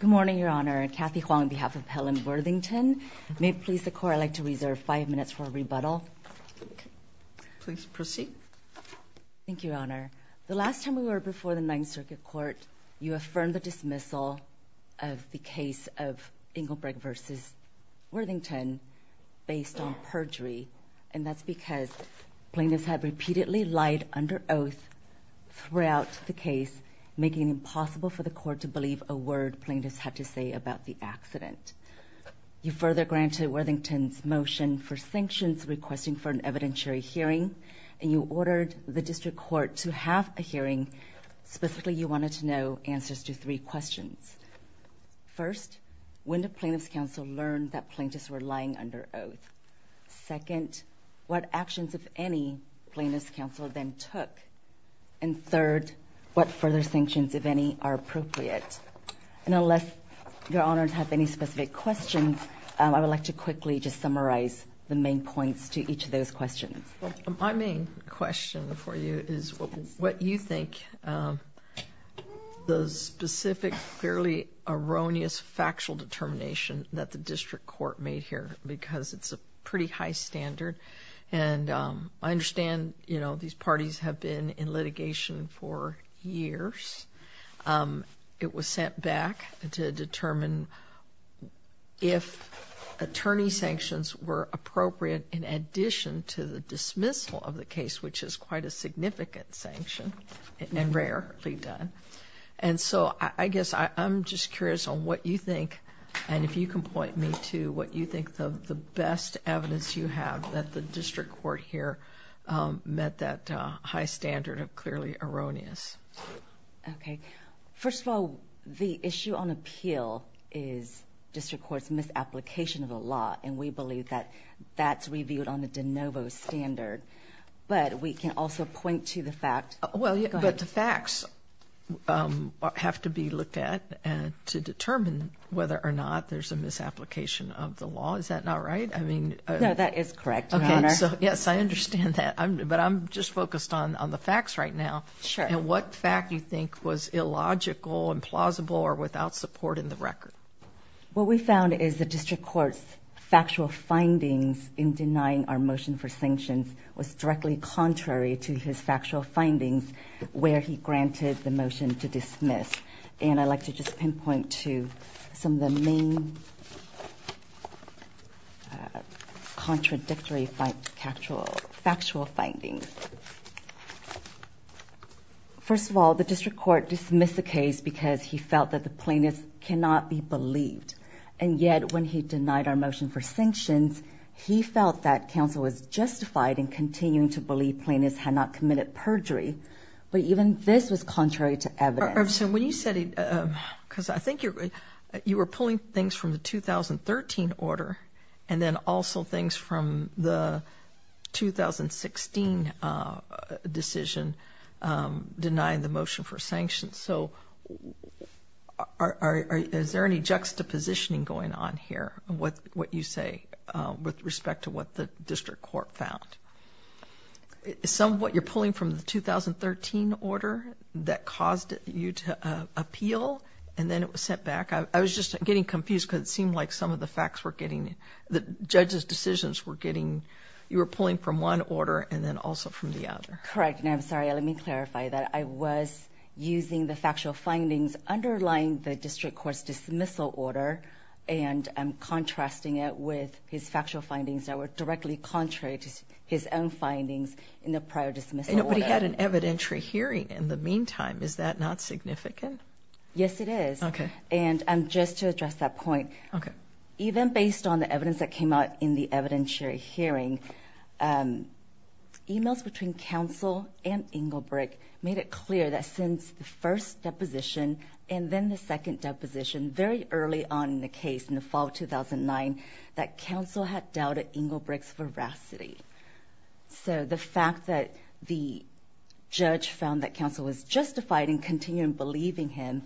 Good morning, Your Honor. Kathy Huang on behalf of Helen Worthington. May it please the Court I'd like to reserve five minutes for a rebuttal. Please proceed. Thank you, Your Honor. The last time we were before the Ninth Circuit Court, you affirmed the dismissal of the case of Engelbrecht v. Worthington based on perjury, and that's because plaintiffs had repeatedly lied under oath throughout the case, making it impossible for the Court to believe a word plaintiffs had to say about the accident. You further granted Worthington's motion for sanctions, requesting for an evidentiary hearing, and you ordered the District Court to have a hearing. Specifically, you wanted to know answers to three questions. First, when did Plaintiffs' Counsel learn that plaintiffs were lying under oath? Second, what actions of any Plaintiffs' Counsel then took? And third, what further sanctions, if any, are appropriate? And unless Your Honors have any specific questions, I would like to quickly just summarize the main points to each of those questions. My main question for you is what you think the specific, fairly erroneous, factual determination that the District Court made here, because it's a pretty high standard. And I understand, you know, these parties have been in litigation for years. It was sent back to determine if attorney sanctions were appropriate in addition to the dismissal of the case, which is quite a significant sanction and rarely done. And so I guess I'm just curious on what you think, and if you can point me to what you think of the best evidence you have that the District Court here met that high standard of clearly erroneous. Okay. First of all, the issue on appeal is District Court's misapplication of the law, and we believe that that's reviewed on the de novo standard. But we can also point to the fact... Well, but the facts have to be misapplication of the law. Is that not right? I mean... No, that is correct, Your Honor. Okay, so yes, I understand that. But I'm just focused on the facts right now. Sure. And what fact do you think was illogical, implausible, or without support in the record? What we found is the District Court's factual findings in denying our motion for sanctions was directly contrary to his factual findings where he granted the motion to dismiss. And I'd like to just pinpoint to some of the main contradictory factual findings. First of all, the District Court dismissed the case because he felt that the plaintiff cannot be believed. And yet when he denied our motion for sanctions, he felt that counsel was justified in continuing to believe plaintiffs had not committed perjury. But even this was contrary to evidence. When you said... Because I think you were pulling things from the 2013 order and then also things from the 2016 decision denying the motion for sanctions. So is there any juxtapositioning going on here with what you say with respect to what the District Court found? Some of what you're pulling from the 2013 order that caused you to appeal and then it was sent back. I was just getting confused because it seemed like some of the facts were getting... The judge's decisions were getting... You were pulling from one order and then also from the other. Correct. And I'm sorry, let me clarify that. I was using the factual findings underlying the District Court's dismissal order and I'm contrasting it with his factual findings that were directly contrary to his own findings in the prior dismissal order. But he had an evidentiary hearing in the meantime. Is that not significant? Yes, it is. And just to address that point, even based on the evidence that came out in the evidentiary hearing, emails between counsel and Engelbrecht made it clear that since the first deposition and then the second deposition, very early on in the case in the fall of 2009, that counsel had doubted Engelbrecht's veracity. So the fact that the judge found that counsel was justified in continuing believing him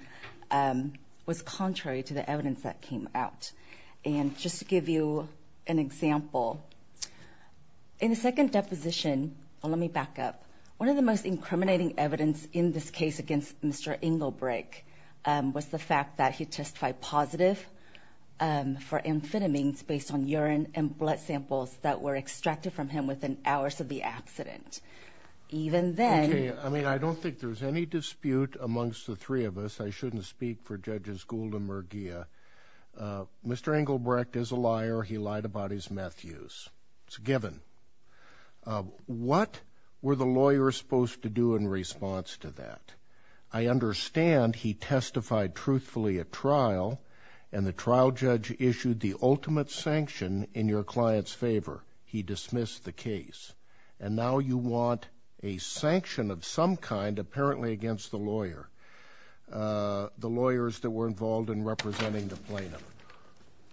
was contrary to the evidence that came out. And just to give you an example, in the second deposition, let me back up, one of the most was the fact that he testified positive for amphetamines based on urine and blood samples that were extracted from him within hours of the accident. Even then... Okay, I mean, I don't think there's any dispute amongst the three of us. I shouldn't speak for Judges Gould and Merguia. Mr. Engelbrecht is a liar. He lied about his meth use. It's a given. What were the lawyers supposed to do in response to that? I understand he testified truthfully at trial, and the trial judge issued the ultimate sanction in your client's favor. He dismissed the case. And now you want a sanction of some kind, apparently against the lawyer, the lawyers that were involved in representing the plaintiff.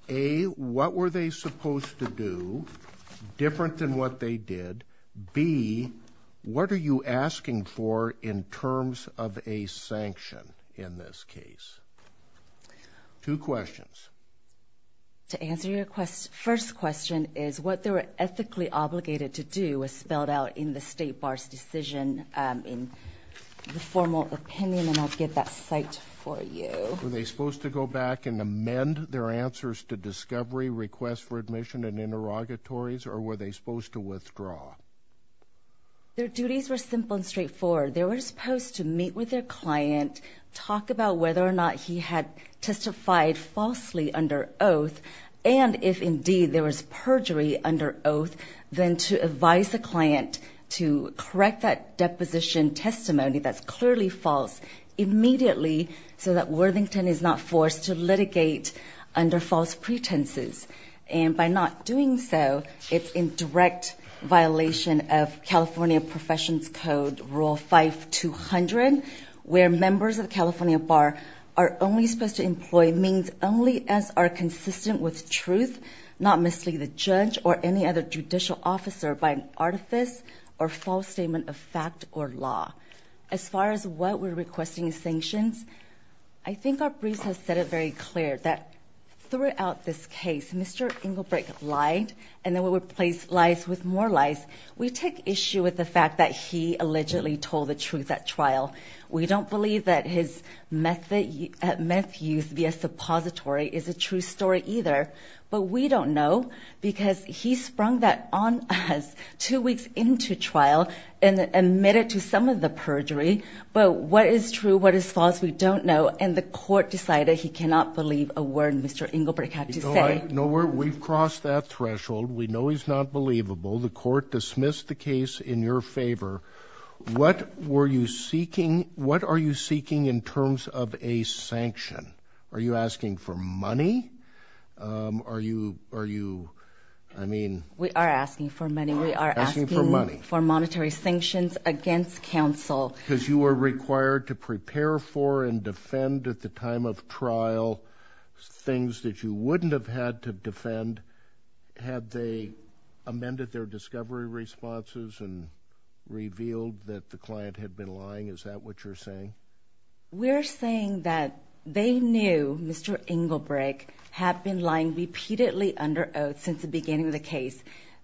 A, what were they supposed to do, different than what they did. B, what are you asking for in terms of a sanction in this case? Two questions. To answer your first question is, what they were ethically obligated to do was spelled out in the State Bar's decision in the formal opinion, and I'll give that cite for you. Were they supposed to go back and amend their answers to discovery requests for admission and interrogatories, or were they supposed to withdraw? Their duties were simple and straightforward. They were supposed to meet with their client, talk about whether or not he had testified falsely under oath, and if indeed there was perjury under oath, then to advise the client to correct that deposition testimony that's clearly false immediately so that Worthington is not forced to litigate under false pretenses. And by not doing so, it's in direct violation of California Professions Code, Rule 5200, where members of the California Bar are only supposed to employ means only as are consistent with truth, not mislead the judge or any other judicial officer by an artifice or false statement of fact or law. As far as what we're requesting sanctions, I think our briefs have said it very clear that throughout this case, Mr. Engelbrecht lied, and then we would place lies with more lies. We take issue with the fact that he allegedly told the truth at trial. We don't believe that his meth use via suppository is a true story either, but we don't know because he sprung that on us two weeks into trial and admitted to some of the perjury. But what is true, what is false, we don't know. And the court decided he cannot believe a word Mr. Engelbrecht had to say. No, we've crossed that threshold. We know he's not believable. The court dismissed the case in your favor. What were you seeking? What are you seeking in terms of a sanction? Are you asking for money? Um, are you, are you, I mean... We are asking for money. We are asking for monetary sanctions against counsel. Because you were required to prepare for and defend at the time of trial things that you wouldn't have had to defend had they amended their discovery responses and revealed that the client had been lying. Is that what you're saying? We're saying that they knew Mr. Engelbrecht had been lying repeatedly under oath since the beginning of the case.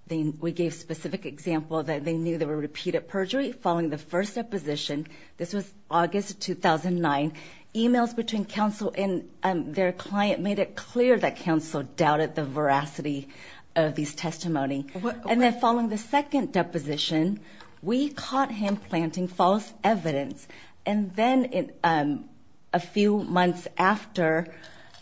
Then we gave specific example that they knew there were repeated perjury following the first deposition. This was August 2009. Emails between counsel and their client made it clear that counsel doubted the veracity of these testimony. And then following the second deposition, we caught him planting false evidence. And then a few months after,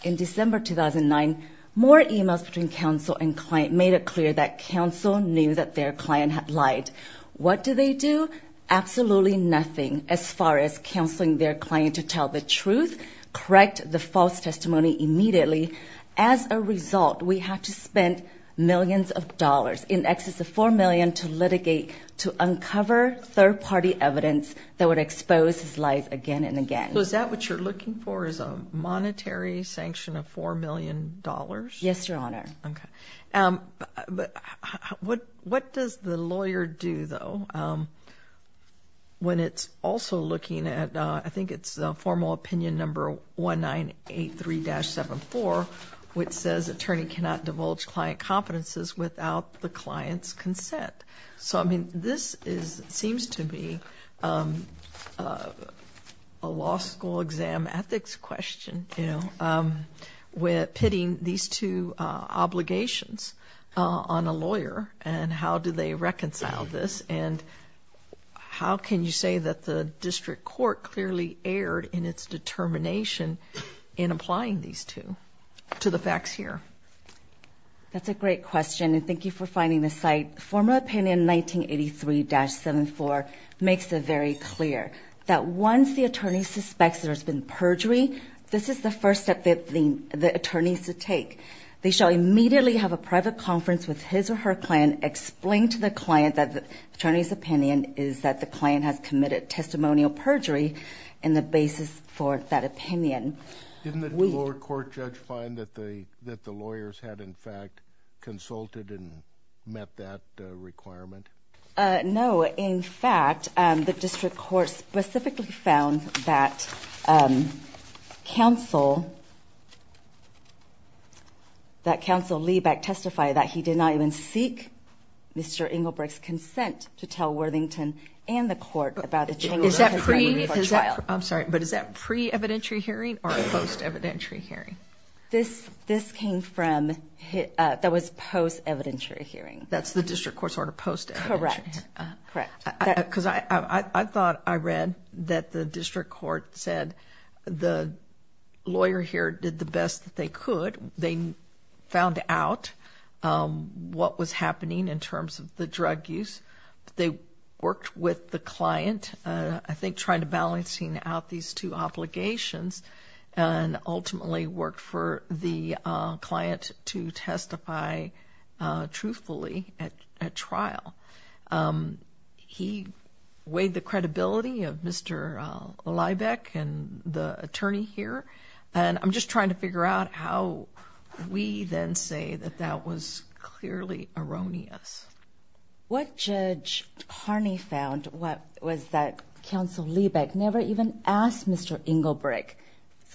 in December 2009, more emails between counsel and client made it clear that counsel knew that their client had lied. What do they do? Absolutely nothing as far as counseling their client to tell the truth, correct the false testimony immediately. As a result, we have to spend millions of dollars, in excess of $4 million, to litigate to uncover third-party evidence that would expose his lies again and again. So is that what you're looking for, is a monetary sanction of $4 million? Yes, Your Honor. What does the lawyer do, though, when it's also looking at, I think it's formal opinion number 1983-74, which says attorney cannot divulge client competences without the client's consent? So, I mean, this seems to be a law school exam ethics question, you know, pitting these two obligations on a lawyer and how do they reconcile this? And how can you say that the district court clearly erred in its determination in applying these two to the facts here? That's a great question and thank you for finding the site. Formal opinion 1983-74 makes it very clear that once the attorney suspects there's been perjury, this is the first step that the attorneys should take. They shall immediately have a private conference with his or her client, explain to the client that the attorney's opinion is that the client has committed testimonial perjury and the basis for that opinion. Didn't the court judge find that the lawyers had, in fact, consulted and met that requirement? No, in fact, the district court specifically found that counsel, that counsel Liebeck testified that he did not even seek Mr. Engelbrecht's consent to tell Worthington and the court about the change. I'm sorry, but is that pre-evidentiary hearing or post-evidentiary hearing? This came from, that was post-evidentiary hearing. That's the district court's order, post-evidentiary. Correct, correct. Because I thought I read that the district court said the lawyer here did the best that they could. They found out what was happening in terms of the drug use. They worked with the client, I think trying to balancing out these two obligations and ultimately worked for the client to testify truthfully at trial. He weighed the credibility of Mr. Liebeck and the attorney here. I'm just trying to figure out how we then say that that was clearly erroneous. What Judge Harney found was that counsel Liebeck never even asked Mr. Engelbrecht's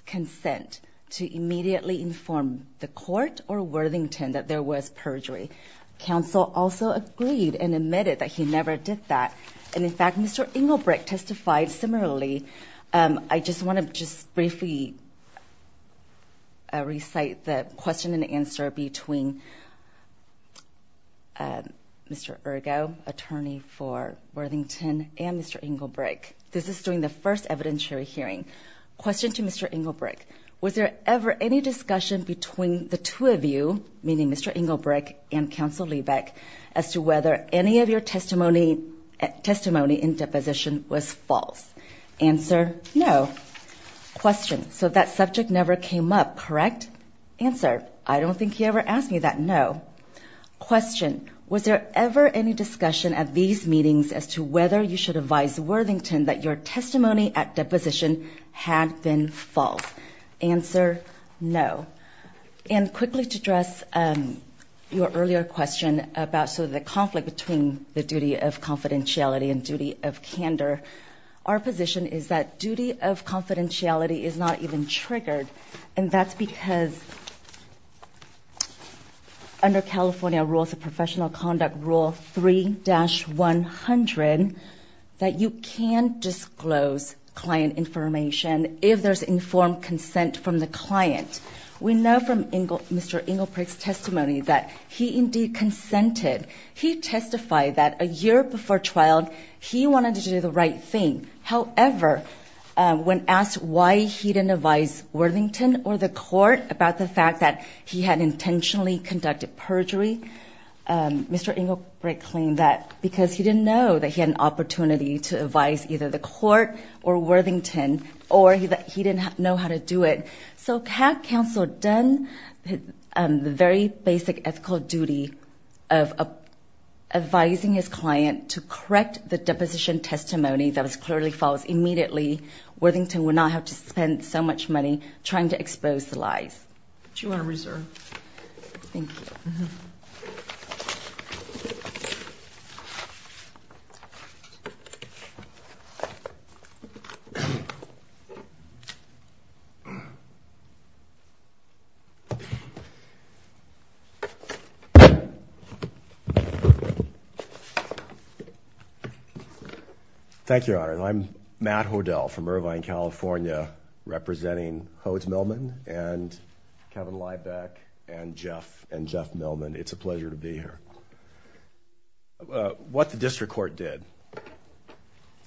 consent to immediately inform the court or Worthington that there was perjury. Counsel also agreed and admitted that he never did that. In fact, Mr. Engelbrecht testified similarly. I just want to just briefly recite the question and answer between Mr. Ergo, attorney for Worthington and Mr. Engelbrecht. This is during the first evidentiary hearing. Question to Mr. Engelbrecht. Was there ever any discussion between the two of you, meaning Mr. Engelbrecht and counsel Liebeck, as to whether any of your testimony in deposition was false? Answer, no. Question, so that subject never came up, correct? Answer, I don't think he ever asked me that, no. Question, was there ever any discussion at these meetings as to whether you should advise Worthington that your testimony at deposition had been false? Answer, no. And quickly to address your earlier question about sort of the conflict between the duty of confidentiality and duty of candor, our position is that duty of confidentiality is not even triggered, and that's because under California Rules of Professional Conduct, Rule 3-100, that you can disclose client information if there's informed consent from the client. We know from Mr. Engelbrecht's testimony that he indeed consented. He testified that a year before trial, he wanted to do the right thing. However, when asked why he didn't advise Worthington or the court about the fact that he had intentionally conducted perjury, Mr. Engelbrecht claimed that because he didn't know that he had an opportunity to advise either the court or Worthington, or that he didn't know how to do it. So had counsel done the very basic ethical duty of advising his client to correct the deposition testimony that was clearly false, immediately Worthington would not have to spend so much money trying to expose the lies. What do you want to reserve? Thank you. Thank you, Your Honor. I'm Matt Hodel from Irvine, California, representing Hodes Millman and Kevin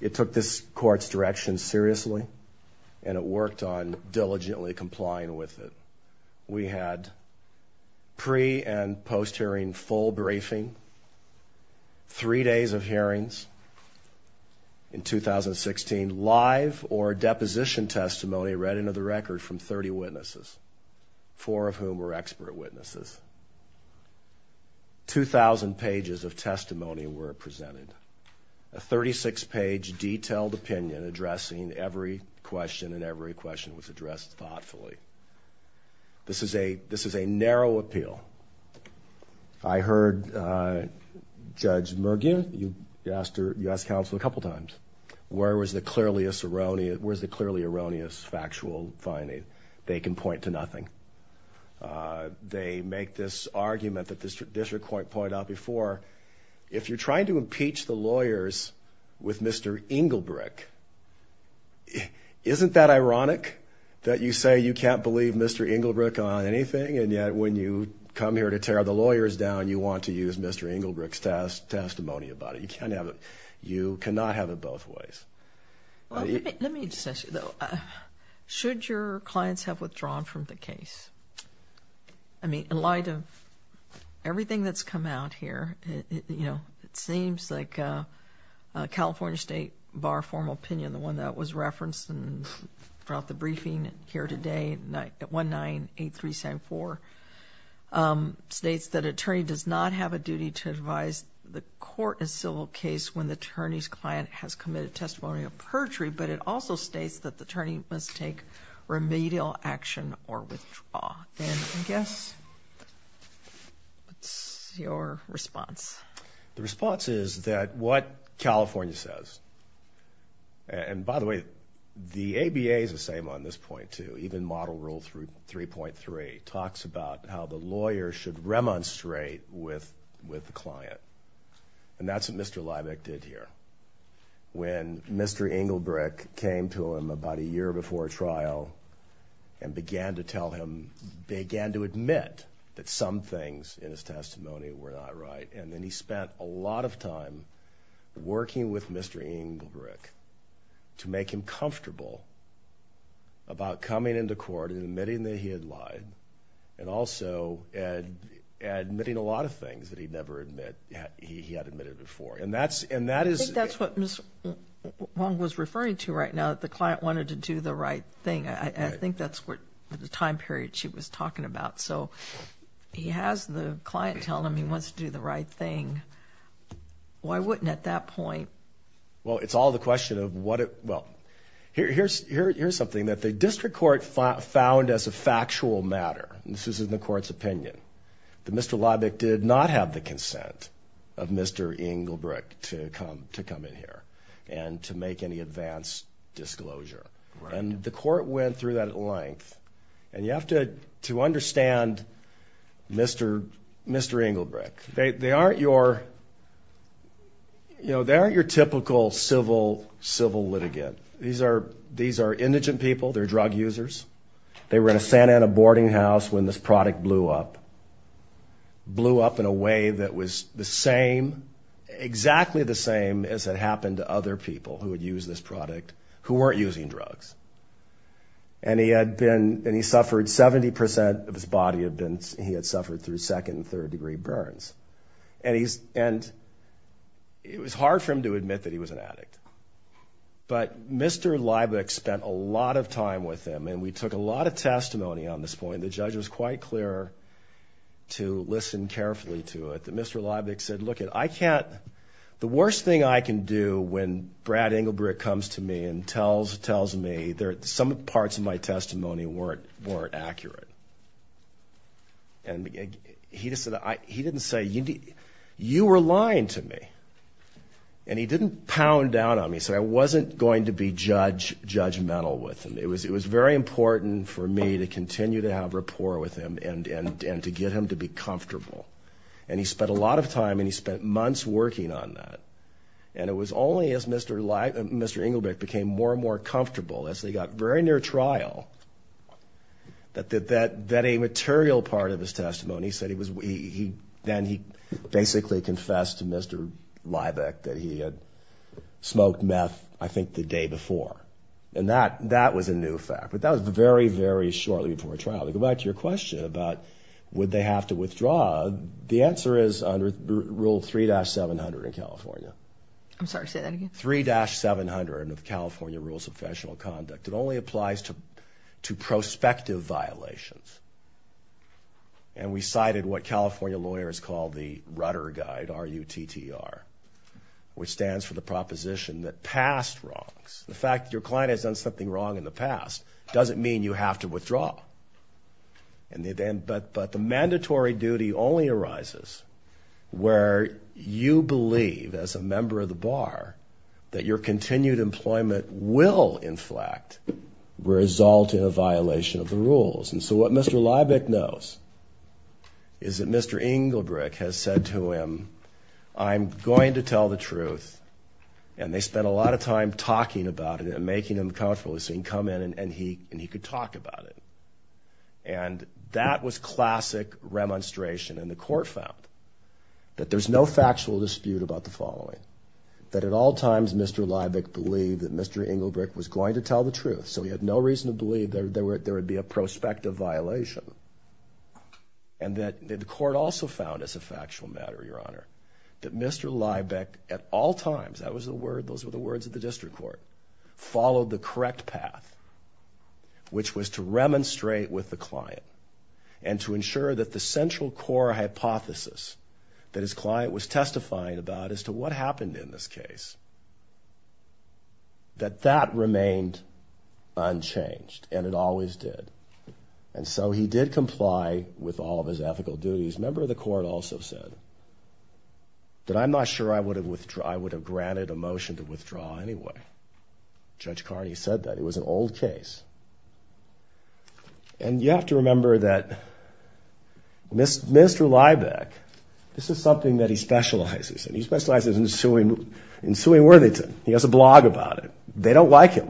It took this court's direction seriously, and it worked on diligently complying with it. We had pre- and post-hearing full briefing, three days of hearings in 2016, live or deposition testimony read into the record from 30 witnesses, four of whom were expert witnesses. 2,000 pages of testimony were presented, a 36-page detailed opinion addressing every question, and every question was addressed thoughtfully. This is a narrow appeal. I heard Judge Mergier, you asked counsel a couple times, where was the clearly erroneous factual finding? They can point to nothing. They make this argument that the district court pointed out before, if you're trying to impeach the lawyers with Mr. Engelbrecht, isn't that ironic that you say you can't believe Mr. Engelbrecht on anything, and yet when you come here to tear the lawyers down, you want to use Mr. Engelbrecht's testimony about it. You cannot have it both ways. Let me just ask you though, should your clients have withdrawn from the case? I mean, in light of everything that's come out here, you know, it seems like California State Bar Formal Opinion, the one that was referenced throughout the briefing here today, 198374, states that attorney does not have a duty to advise the court in civil case when the attorney's client has committed testimonial perjury, but it also states that the attorney must take remedial action or withdraw. And I guess, what's your response? The response is that what California says, and by the way, the ABA is the same on this point too, even Model Rule 3.3 talks about how the lawyer should remonstrate with the client. And that's what Mr. Leibniz did here. When Mr. Engelbrecht came to him about a year before trial and began to tell him, began to admit that some things in his testimony were not right, and then he spent a lot of time working with Mr. Engelbrecht to make him admit a lot of things that he'd never admitted before. I think that's what Ms. Wong was referring to right now, the client wanted to do the right thing. I think that's what the time period she was talking about. So he has the client tell him he wants to do the right thing. Why wouldn't at that point? Well, it's all the question of what it, well, here's something that district court found as a factual matter, and this is in the court's opinion, that Mr. Leibniz did not have the consent of Mr. Engelbrecht to come in here and to make any advance disclosure. And the court went through that at length. And you have to understand Mr. Engelbrecht, they aren't your, you know, they aren't your typical civil litigant. These are indigent people, they're drug users. They were in a Santa Ana boarding house when this product blew up. Blew up in a way that was the same, exactly the same as had happened to other people who would use this product who weren't using drugs. And he had been, and he suffered, 70% of his body had been, he had suffered through second and third degree burns. And he's, and it was hard for him to admit that he was an addict. But Mr. Leibniz spent a lot of time with him, and we took a lot of testimony on this point. The judge was quite clear to listen carefully to it, that Mr. Leibniz said, look, I can't, the worst thing I can do when Brad Engelbrecht comes to me and tells me there are some parts of my testimony weren't accurate. And he just said, he didn't say, you were lying to me. And he didn't pound down on me. He said, I wasn't going to be judge, judgmental with him. It was very important for me to continue to have rapport with him and to get him to be comfortable. And he spent a lot of time and he spent months working on that. And it was only as Mr. Leibniz, Mr. Engelbrecht became more and more comfortable as they got very near trial, that, that, that a material part of his testimony said he was, then he basically confessed to Mr. Leibniz that he had smoked meth, I think the day before. And that, that was a new fact, but that was very, very shortly before a trial. Go back to your question about, would they have to withdraw? The answer is under rule 3-700 in California. I'm sorry, say that again. 3-700 of California rules of professional conduct. It only applies to, to prospective violations. And we cited what California lawyers call the Rudder Guide, R-U-T-T-R, which stands for the proposition that past wrongs, the fact that your client has done something wrong in the past doesn't mean you have to withdraw. And then, but, but the mandatory duty only arises where you believe as a member of the bar that your continued employment will inflect, result in a violation of the rules. And so what Mr. Leibniz knows is that Mr. Engelbrecht has said to him, I'm going to tell the truth. And they spent a lot of time talking about it and making him comfortable so he can come in and he, and he could talk about it. And that was classic remonstration. And the court found that there's no factual dispute about the following, that at all times, Mr. Leibniz believed that Mr. Engelbrecht was going to tell the truth. So he had no reason to believe there, there were, there would be a prospective violation. And that the court also found as a factual matter, your honor, that Mr. Leibniz at all times, that was the word, those were the words of the district court, followed the correct path, which was to remonstrate with the client and to ensure that the central core hypothesis that his client was testifying about as to what happened in this case, that that remained unchanged and it always did. And so he did comply with all of his ethical duties. Member of the court also said that I'm not sure I would withdraw, I would have granted a motion to withdraw anyway. Judge Carney said that. It was an old case. And you have to remember that Mr. Liebeck, this is something that he specializes in. He specializes in suing, in suing Worthington. He has a blog about it. They don't like him.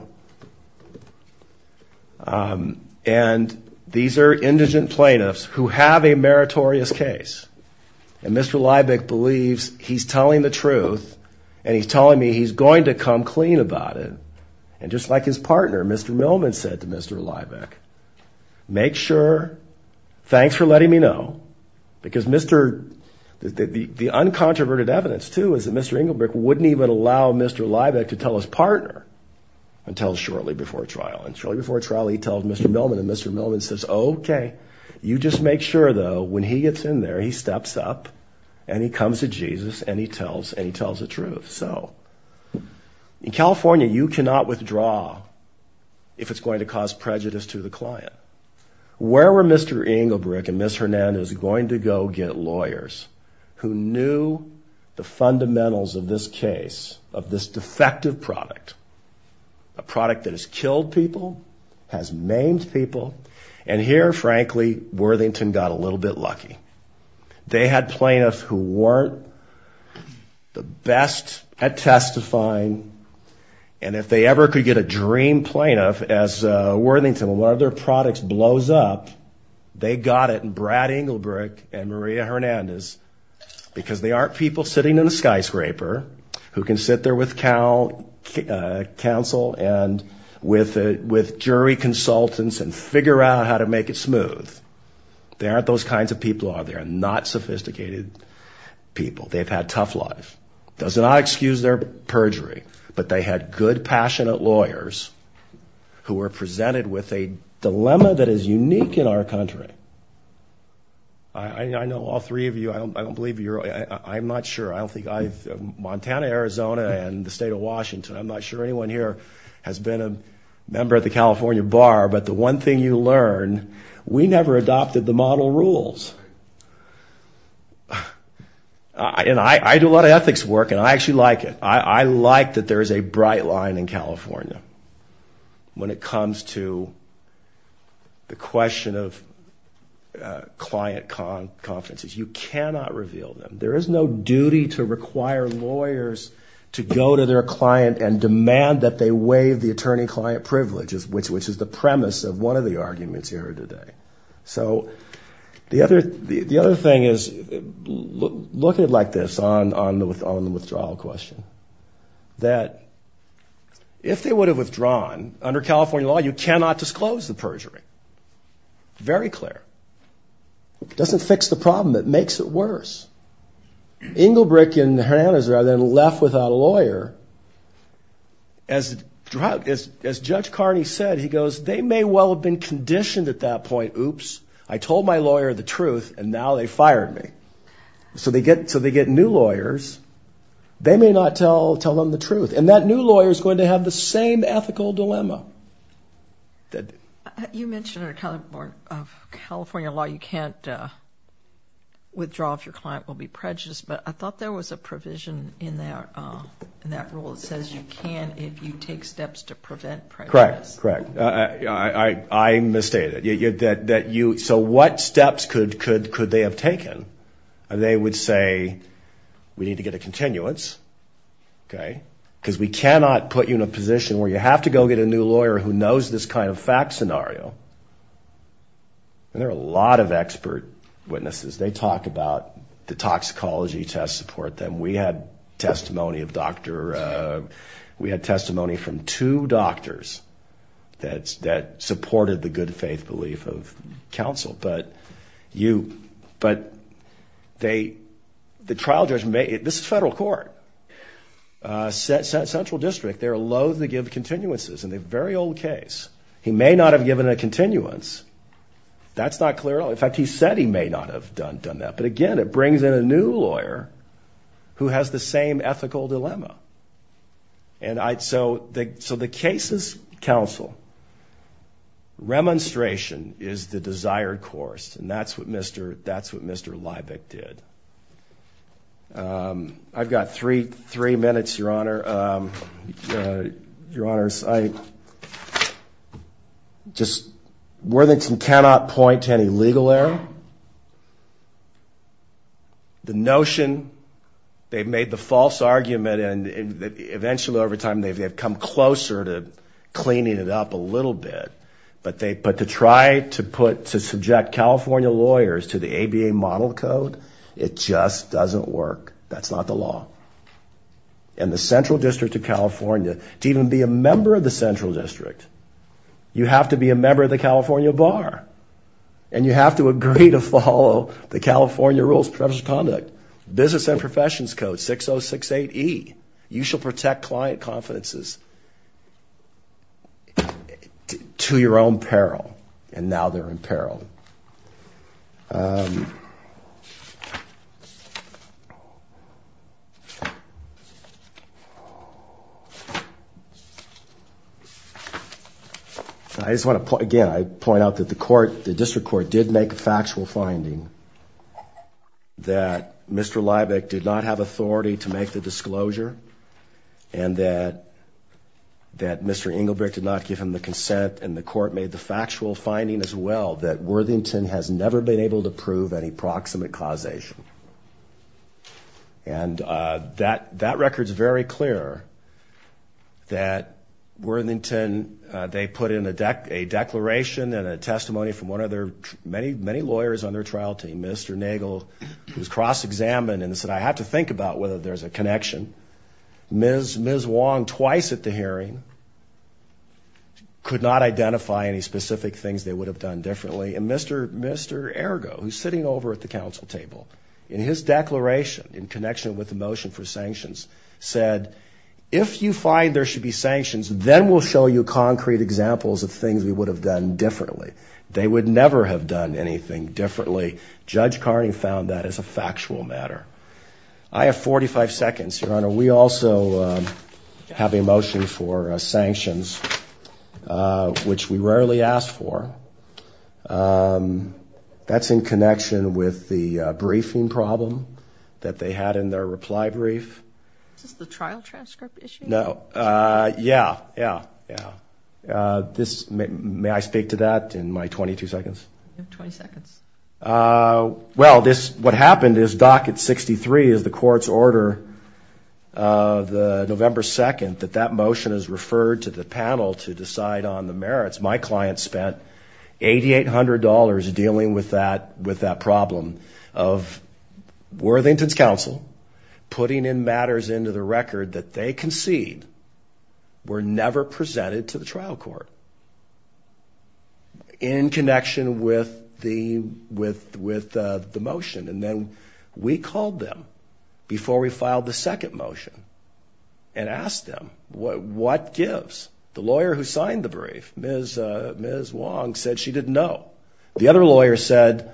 And these are indigent plaintiffs who have a meritorious case. And Mr. Liebeck believes he's telling the truth and he's telling me he's going to come clean about it. And just like his partner, Mr. Millman said to Mr. Liebeck, make sure, thanks for letting me know, because Mr., the, the, the uncontroverted evidence too, is that Mr. Engelbrecht wouldn't even allow Mr. Liebeck to tell his partner until shortly before trial. And shortly before trial, he tells Mr. Millman and Mr. Millman says, okay, you just make sure though, when he gets in there, he steps up and he comes to Jesus and he tells, and he tells the truth. So in California, you cannot withdraw if it's going to cause prejudice to the client. Where were Mr. Engelbrecht and Ms. Hernandez going to go get lawyers who knew the fundamentals of this case, of this defective product, a product that has killed people, has maimed people. And here, frankly, Worthington got a little bit lucky. They had plaintiffs who weren't the best at testifying. And if they ever could get a dream plaintiff as a Worthington, one of their products blows up, they got it in Brad Engelbrecht and Maria Hernandez because they aren't people sitting in a skyscraper who can sit there with counsel and with jury consultants and figure out how to make it smooth. They aren't those kinds of people. They're not sophisticated people. They've had tough life. Does not excuse their perjury, but they had good, passionate lawyers who were presented with a dilemma that is unique in our country. I know all three of you, I don't believe you're, I'm not sure. I don't think I've, Montana, Arizona, and the state of Washington, I'm not sure anyone here has been a member of the California Bar, but the one thing you learn, we never adopted the model rules. And I do a lot of ethics work and I actually like it. I like that there is a bright line in California when it comes to the question of client confidences. You cannot reveal them. There is no duty to require lawyers to go to their client and demand that they waive the attorney-client privileges, which is the premise of one of the arguments here today. So the other thing is, look at it like this on the withdrawal question, that if they would have withdrawn under California law, you cannot disclose the perjury. Very clear. It doesn't fix the problem, it makes it worse. Engelbrecht and Hernandez rather than left without a lawyer, as Judge Carney said, he goes, they may well have been conditioned at that point, oops, I told my lawyer the truth and now they fired me. So they get new lawyers, they may not tell them the truth. And that new lawyer is going to have the same ethical dilemma. You mentioned California law, you can't withdraw if your client will be prejudiced, but I thought there was a provision in that rule that says you can if you take steps to prevent prejudice. Correct, correct. I misstated. So what steps could they have taken? They would say, we need to get a continuance because we cannot put you in a position where you have to go get a new lawyer who knows this kind of fact scenario. And there are a lot of expert witnesses. They talk about the toxicology test support them. We had testimony from two doctors that supported the good faith belief of counsel. But you, but they, the trial judge may, this is federal court, central district, they're loathe to give continuances in the very old case. He may not have given a continuance. That's not clear. In fact, he said he may not have done that. But again, it brings in a new lawyer who has the same ethical dilemma. And I, so the, so the case is counsel. Remonstration is the desired course. And that's what Mr, that's what Mr. Leibig did. I've got three, three minutes, your honor, your honors. I just, Worthington cannot point to any legal error. The notion they've made the false argument and eventually over time, they've, they've come closer to cleaning it up a little bit, but they, but to try to put, to subject California lawyers to the ABA model code, it just doesn't work. That's not the law. And the central district of California, to even be a member of the central district, you have to be a member of the California bar and you have to agree to follow the California rules of professional conduct, business and professions code 6068E. You shall protect client confidences to your own peril. And now they're in peril. I just want to point, again, I point out that the court, the district court did make a factual finding that Mr. Leibig did not have authority to make the disclosure and that, that Mr. Engelbrecht did not give him the consent and the court made the factual finding as well that Worthington has never been able to prove any proximate causation. And that, that record's very clear that Worthington, they put in a dec, a declaration and a testimony from one of their many, many lawyers on their trial team, Mr. Nagle, who's cross-examined and said, I have to think about whether there's a could not identify any specific things they would have done differently. And Mr. Mr. Ergo, who's sitting over at the council table in his declaration in connection with the motion for sanctions said, if you find there should be sanctions, then we'll show you concrete examples of things we would have done differently. They would never have done anything differently. Judge Carney found that as a factual matter. I have 45 seconds, Your Honor. We also have a motion for sanctions, which we rarely asked for. That's in connection with the briefing problem that they had in their reply brief. Is this the trial transcript issue? No. Yeah. Yeah. Yeah. This may, may I speak to that in my 22 seconds? 20 seconds. Uh, well, this, what happened is docket 63 is the court's order, uh, the November 2nd, that that motion is referred to the panel to decide on the merits. My client spent $8,800 dealing with that, with that problem of Worthington's council putting in matters into the record that they concede were never presented to the trial court in connection with the, with, with, uh, the motion. And then we called them before we filed the second motion and asked them, what, what gives? The lawyer who signed the brief, Ms., uh, Ms. Wong said she didn't know. The other lawyer said,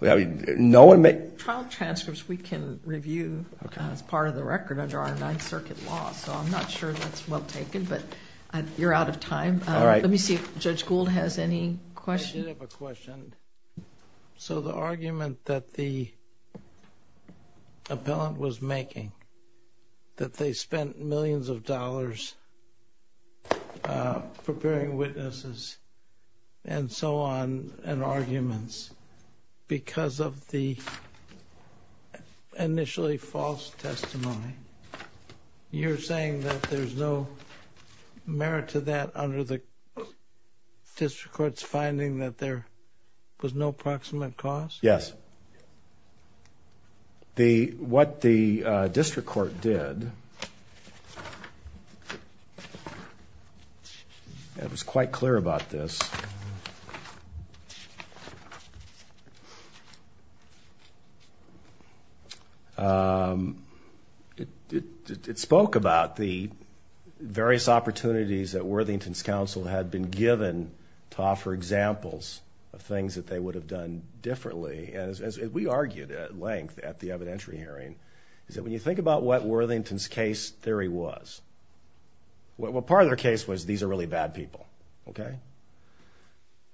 no one may... Trial transcripts we can review as part of the record under our ninth circuit law. So I'm not sure that's well taken, but you're out of time. Let me see if Judge Gould has any questions. I did have a question. So the argument that the appellant was making that they spent millions of dollars, uh, preparing witnesses and so on and arguments because of the initially false testimony, you're saying that there's no merit to that under the district court's finding that there was no proximate cause? Yes. The, what the, uh, district court did, and it was quite clear about this, um, it, it, it spoke about the various opportunities that Worthington's council had been given to offer examples of things that they would have done differently. And as we argued at at the evidentiary hearing is that when you think about what Worthington's case theory was, what part of their case was, these are really bad people. Okay.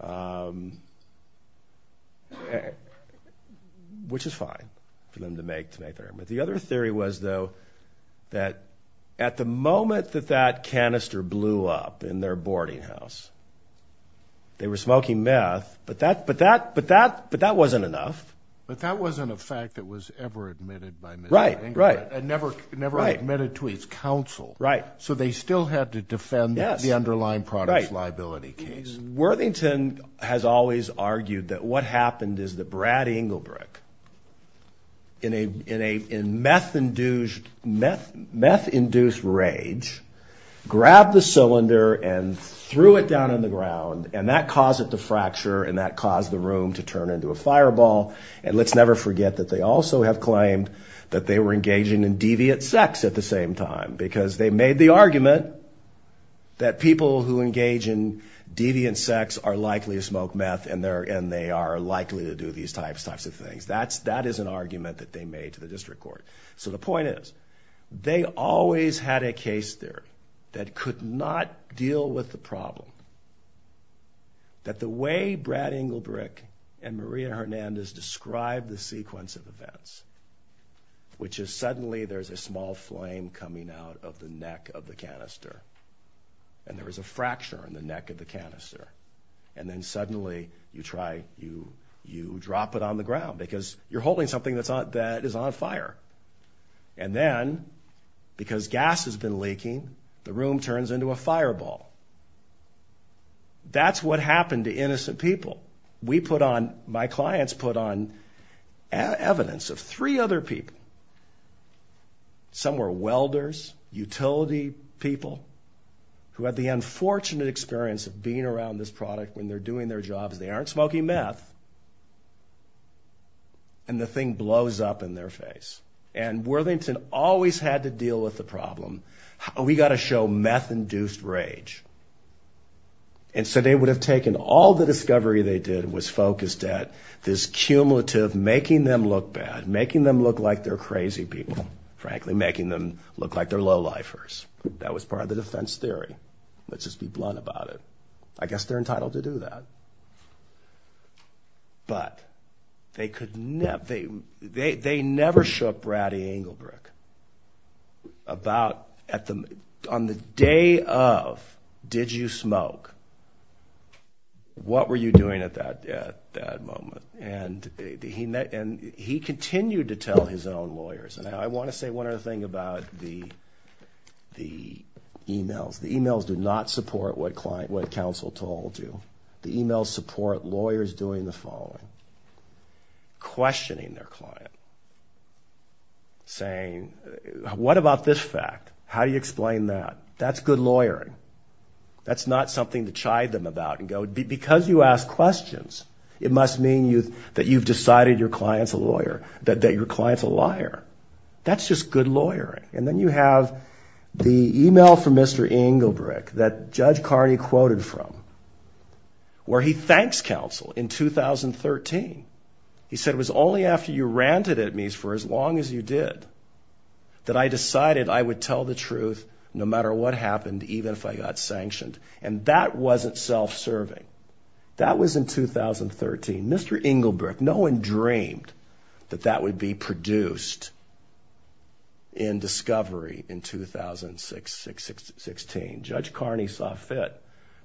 Um, which is fine for them to make, to make their, but the other theory was though that at the moment that that canister blew up in their boarding house, they were smoking meth, but that, but that, but that, but that wasn't enough. But that wasn't a fact that was ever admitted by Mr. Engelbrecht. Right, right. And never, never admitted to his council. Right. So they still had to defend the underlying product liability case. Worthington has always argued that what happened is that Brad Engelbrecht in a, in a, in meth induced, meth, meth induced rage, grabbed the cylinder and threw it down on and that caused it to fracture and that caused the room to turn into a fireball. And let's never forget that they also have claimed that they were engaging in deviant sex at the same time, because they made the argument that people who engage in deviant sex are likely to smoke meth and they're, and they are likely to do these types, types of things. That's, that is an argument that they made to the district court. So the point is they always had a case there that could not deal with the problem. That the way Brad Engelbrecht and Maria Hernandez described the sequence of events, which is suddenly there's a small flame coming out of the neck of the canister and there was a fracture in the neck of the canister. And then suddenly you try, you, you drop it on the ground because you're holding something that's on, that is on fire. And then because gas has been leaking, the room turns into a fireball. That's what happened to innocent people. We put on, my clients put on evidence of three other people. Some were welders, utility people who had the unfortunate experience of being around this product when they're doing their jobs. They aren't smoking meth and the thing blows up in their face. And Worthington always had to deal with the problem. We got to show meth-induced rage. And so they would have taken all the discovery they did was focused at this cumulative, making them look bad, making them look like they're crazy people, frankly, making them look like they're low-lifers. That was part of the defense theory. Let's just be blunt about it. I guess they're entitled to do that. But they could never, they, they, they never shook Brady Engelbrecht about at the, on the day of, did you smoke? What were you doing at that, at that moment? And he met, and he continued to tell his own lawyers. And I want to say one other thing about the, the emails. The emails do not support what client, what counsel told you. The emails support lawyers doing the following, questioning their client, saying, what about this fact? How do you explain that? That's good lawyering. That's not something to chide them about and go, because you ask questions, it must mean you, that you've decided your client's a lawyer, that your client's a liar. That's just good lawyering. And then you have the email from Mr. Engelbrecht that Judge Carney quoted from, where he thanks counsel in 2013. He said, it was only after you ranted at me for as long as you did that I decided I would tell the truth no matter what happened, even if I got sanctioned. And that wasn't self-serving. That was in 2013. Mr. Engelbrecht, no one dreamed that that would be produced in discovery in 2006-16. Judge Carney saw fit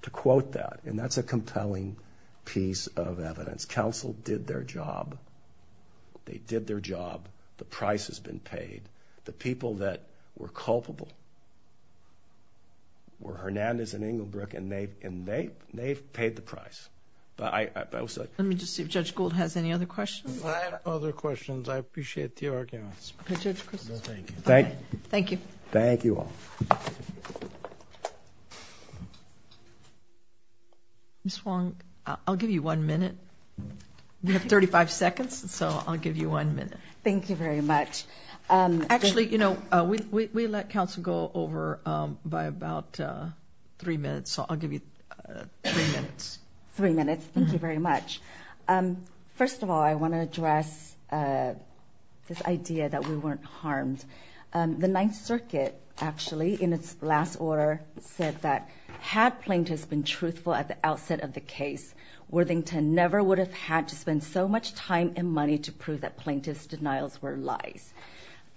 to quote that, and that's a compelling piece of evidence. Counsel did their job. They did their job. The price has been paid. The people that were culpable were Hernandez and Engelbrecht, and they, and they, they've paid the price. But I, but I will say. Let me just see if Judge Gould has any other questions. I have other questions. I appreciate the arguments. Thank you. Thank you all. Ms. Wong, I'll give you one minute. We have 35 seconds, so I'll give you one minute. Thank you very much. Actually, you know, we let counsel go over by about three minutes, so I'll give you three minutes. Three minutes. Thank you very much. First of all, I want to address this idea that we weren't harmed. The Ninth Circuit, actually, in its last order said that, had plaintiffs been truthful at the outset of the case, Worthington never would have had to spend so much time and money to prove that plaintiffs' denials were lies.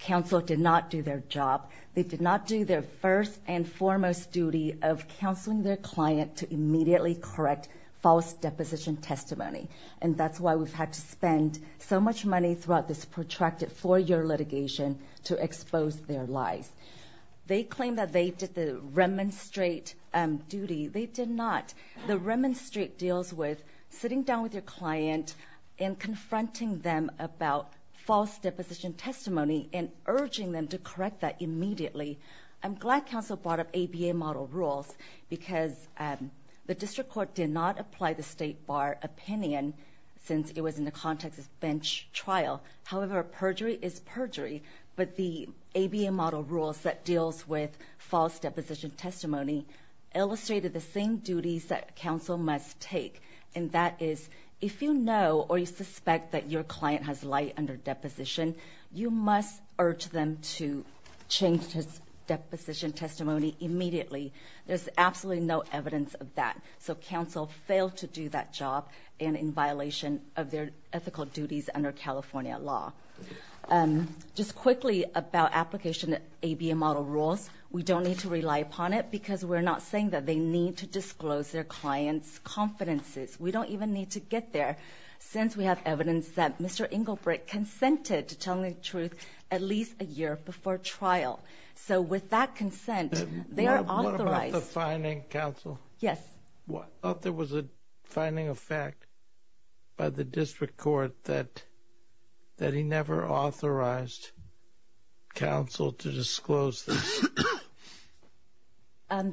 Counsel did not do their job. They did not do their first and foremost duty of counseling their client to immediately correct false deposition testimony. And that's why we've had to spend so much money throughout this protracted four-year litigation to expose their lies. They claim that they did the remonstrate duty. They did not. The remonstrate deals with sitting down with your client and confronting them about false deposition testimony and urging them to correct that immediately. I'm glad counsel brought up ABA model rules because the district court did not apply the State Bar opinion since it was in the context of bench trial. However, perjury is perjury, but the ABA model rules that deals with false deposition testimony illustrated the same duties that counsel must take, and that is, if you know or you suspect that your client has lied under deposition, you must urge them to change his deposition testimony immediately. There's absolutely no evidence of that, so counsel failed to do that job and in violation of their ethical duties under California law. Just quickly about application ABA model rules, we don't need to rely upon it because we're not saying that they need to disclose their clients' confidences. We don't even need to get there. Since we have evidence that Mr. Engelbrecht consented to telling the truth at least a year before trial, so with that consent, they are authorized. What about the finding, counsel? Yes. What if there was a finding of fact by the district court that that he never authorized counsel to disclose this?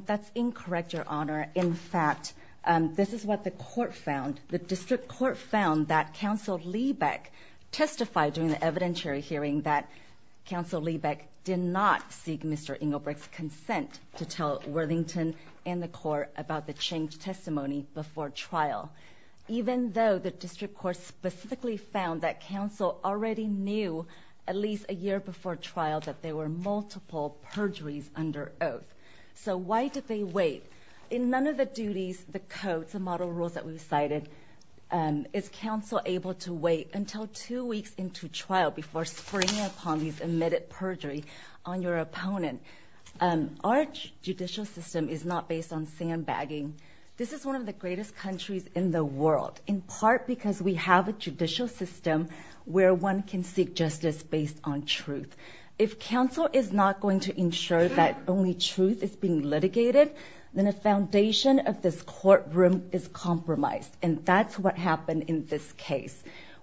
That's incorrect, your honor. In fact, this is what the court found. The district court found that counsel Liebeck testified during the evidentiary hearing that counsel Liebeck did not seek Mr. Engelbrecht's consent to tell Worthington and the court about the changed testimony before trial, even though the district court specifically found that counsel already knew at least a year before trial that there were multiple perjuries under So why did they wait? In none of the duties, the codes, the model rules that we've cited, is counsel able to wait until two weeks into trial before springing upon these admitted perjury on your opponent? Our judicial system is not based on sandbagging. This is one of the greatest countries in the world, in part because we have a judicial system where one can seek justice based on truth. If counsel is not going to ensure that only truth is being litigated, then a foundation of this courtroom is compromised. And that's what happened in this case.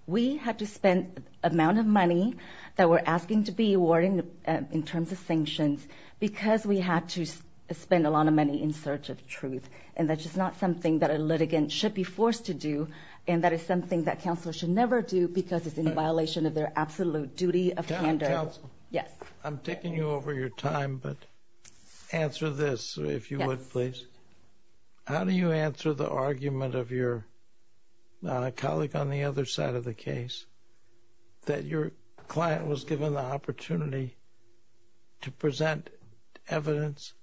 We had to spend amount of money that we're asking to be awarded in terms of sanctions because we had to spend a lot of money in search of truth. And that's just not something that a litigant should be forced to do. And that is something that counsel should never do because it's in violation of their Yes. I'm taking you over your time, but answer this, if you would, please. How do you answer the argument of your colleague on the other side of the case that your client was given the opportunity to present evidence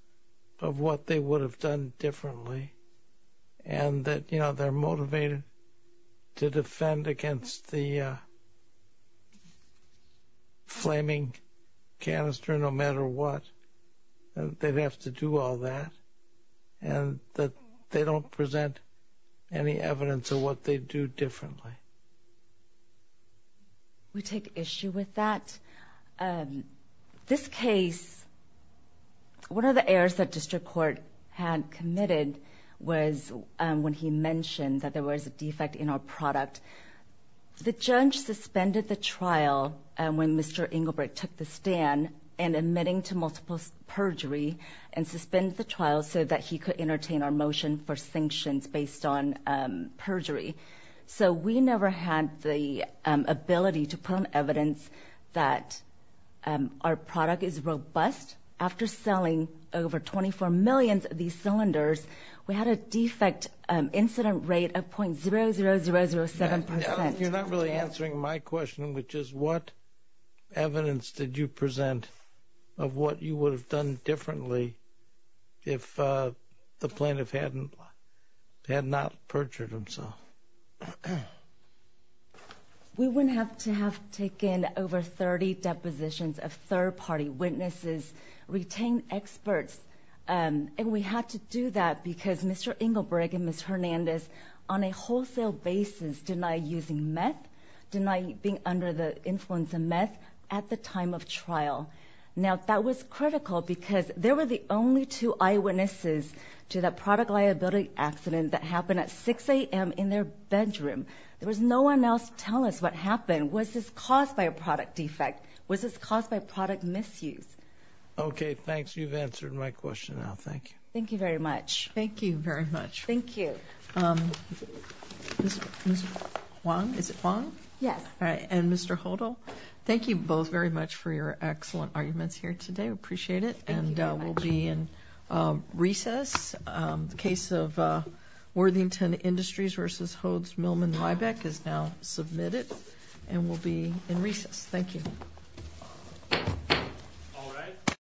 of what they would have done differently and that, you know, they're motivated to defend against the flaming canister no matter what, that they'd have to do all that and that they don't present any evidence of what they do differently? We take issue with that. This case, one of the errors that district court had committed was when he mentioned that there Inglebrook took the stand and admitting to multiple perjury and suspend the trial so that he could entertain our motion for sanctions based on perjury. So we never had the ability to put on evidence that our product is robust. After selling over 24 million of these cylinders, we had a defect incident rate of 0.00007 percent. You're not really answering my question, which is what evidence did you present of what you would have done differently if the plaintiff hadn't had not perjured himself? We wouldn't have to have taken over 30 depositions of third party witnesses, retained experts, and we had to do that because Mr. Inglebrook and Ms. Hernandez on a wholesale basis denied using meth, denied being under the influence of meth at the time of trial. Now that was critical because they were the only two eyewitnesses to that product liability accident that happened at 6 a.m. in their bedroom. There was no one else to tell us what happened. Was this caused by a product defect? Was this caused by product misuse? Okay, thanks. You've answered my question now. Thank you. Thank you very much. Thank you very much. Thank you. Mr. Wong, is it Wong? Yes. All right. And Mr. Hodel, thank you both very much for your excellent arguments here today. We appreciate it. And we'll be in recess. The case of Worthington Industries versus Hodes-Millman-Lybeck is now submitted and will be in recess. Thank you.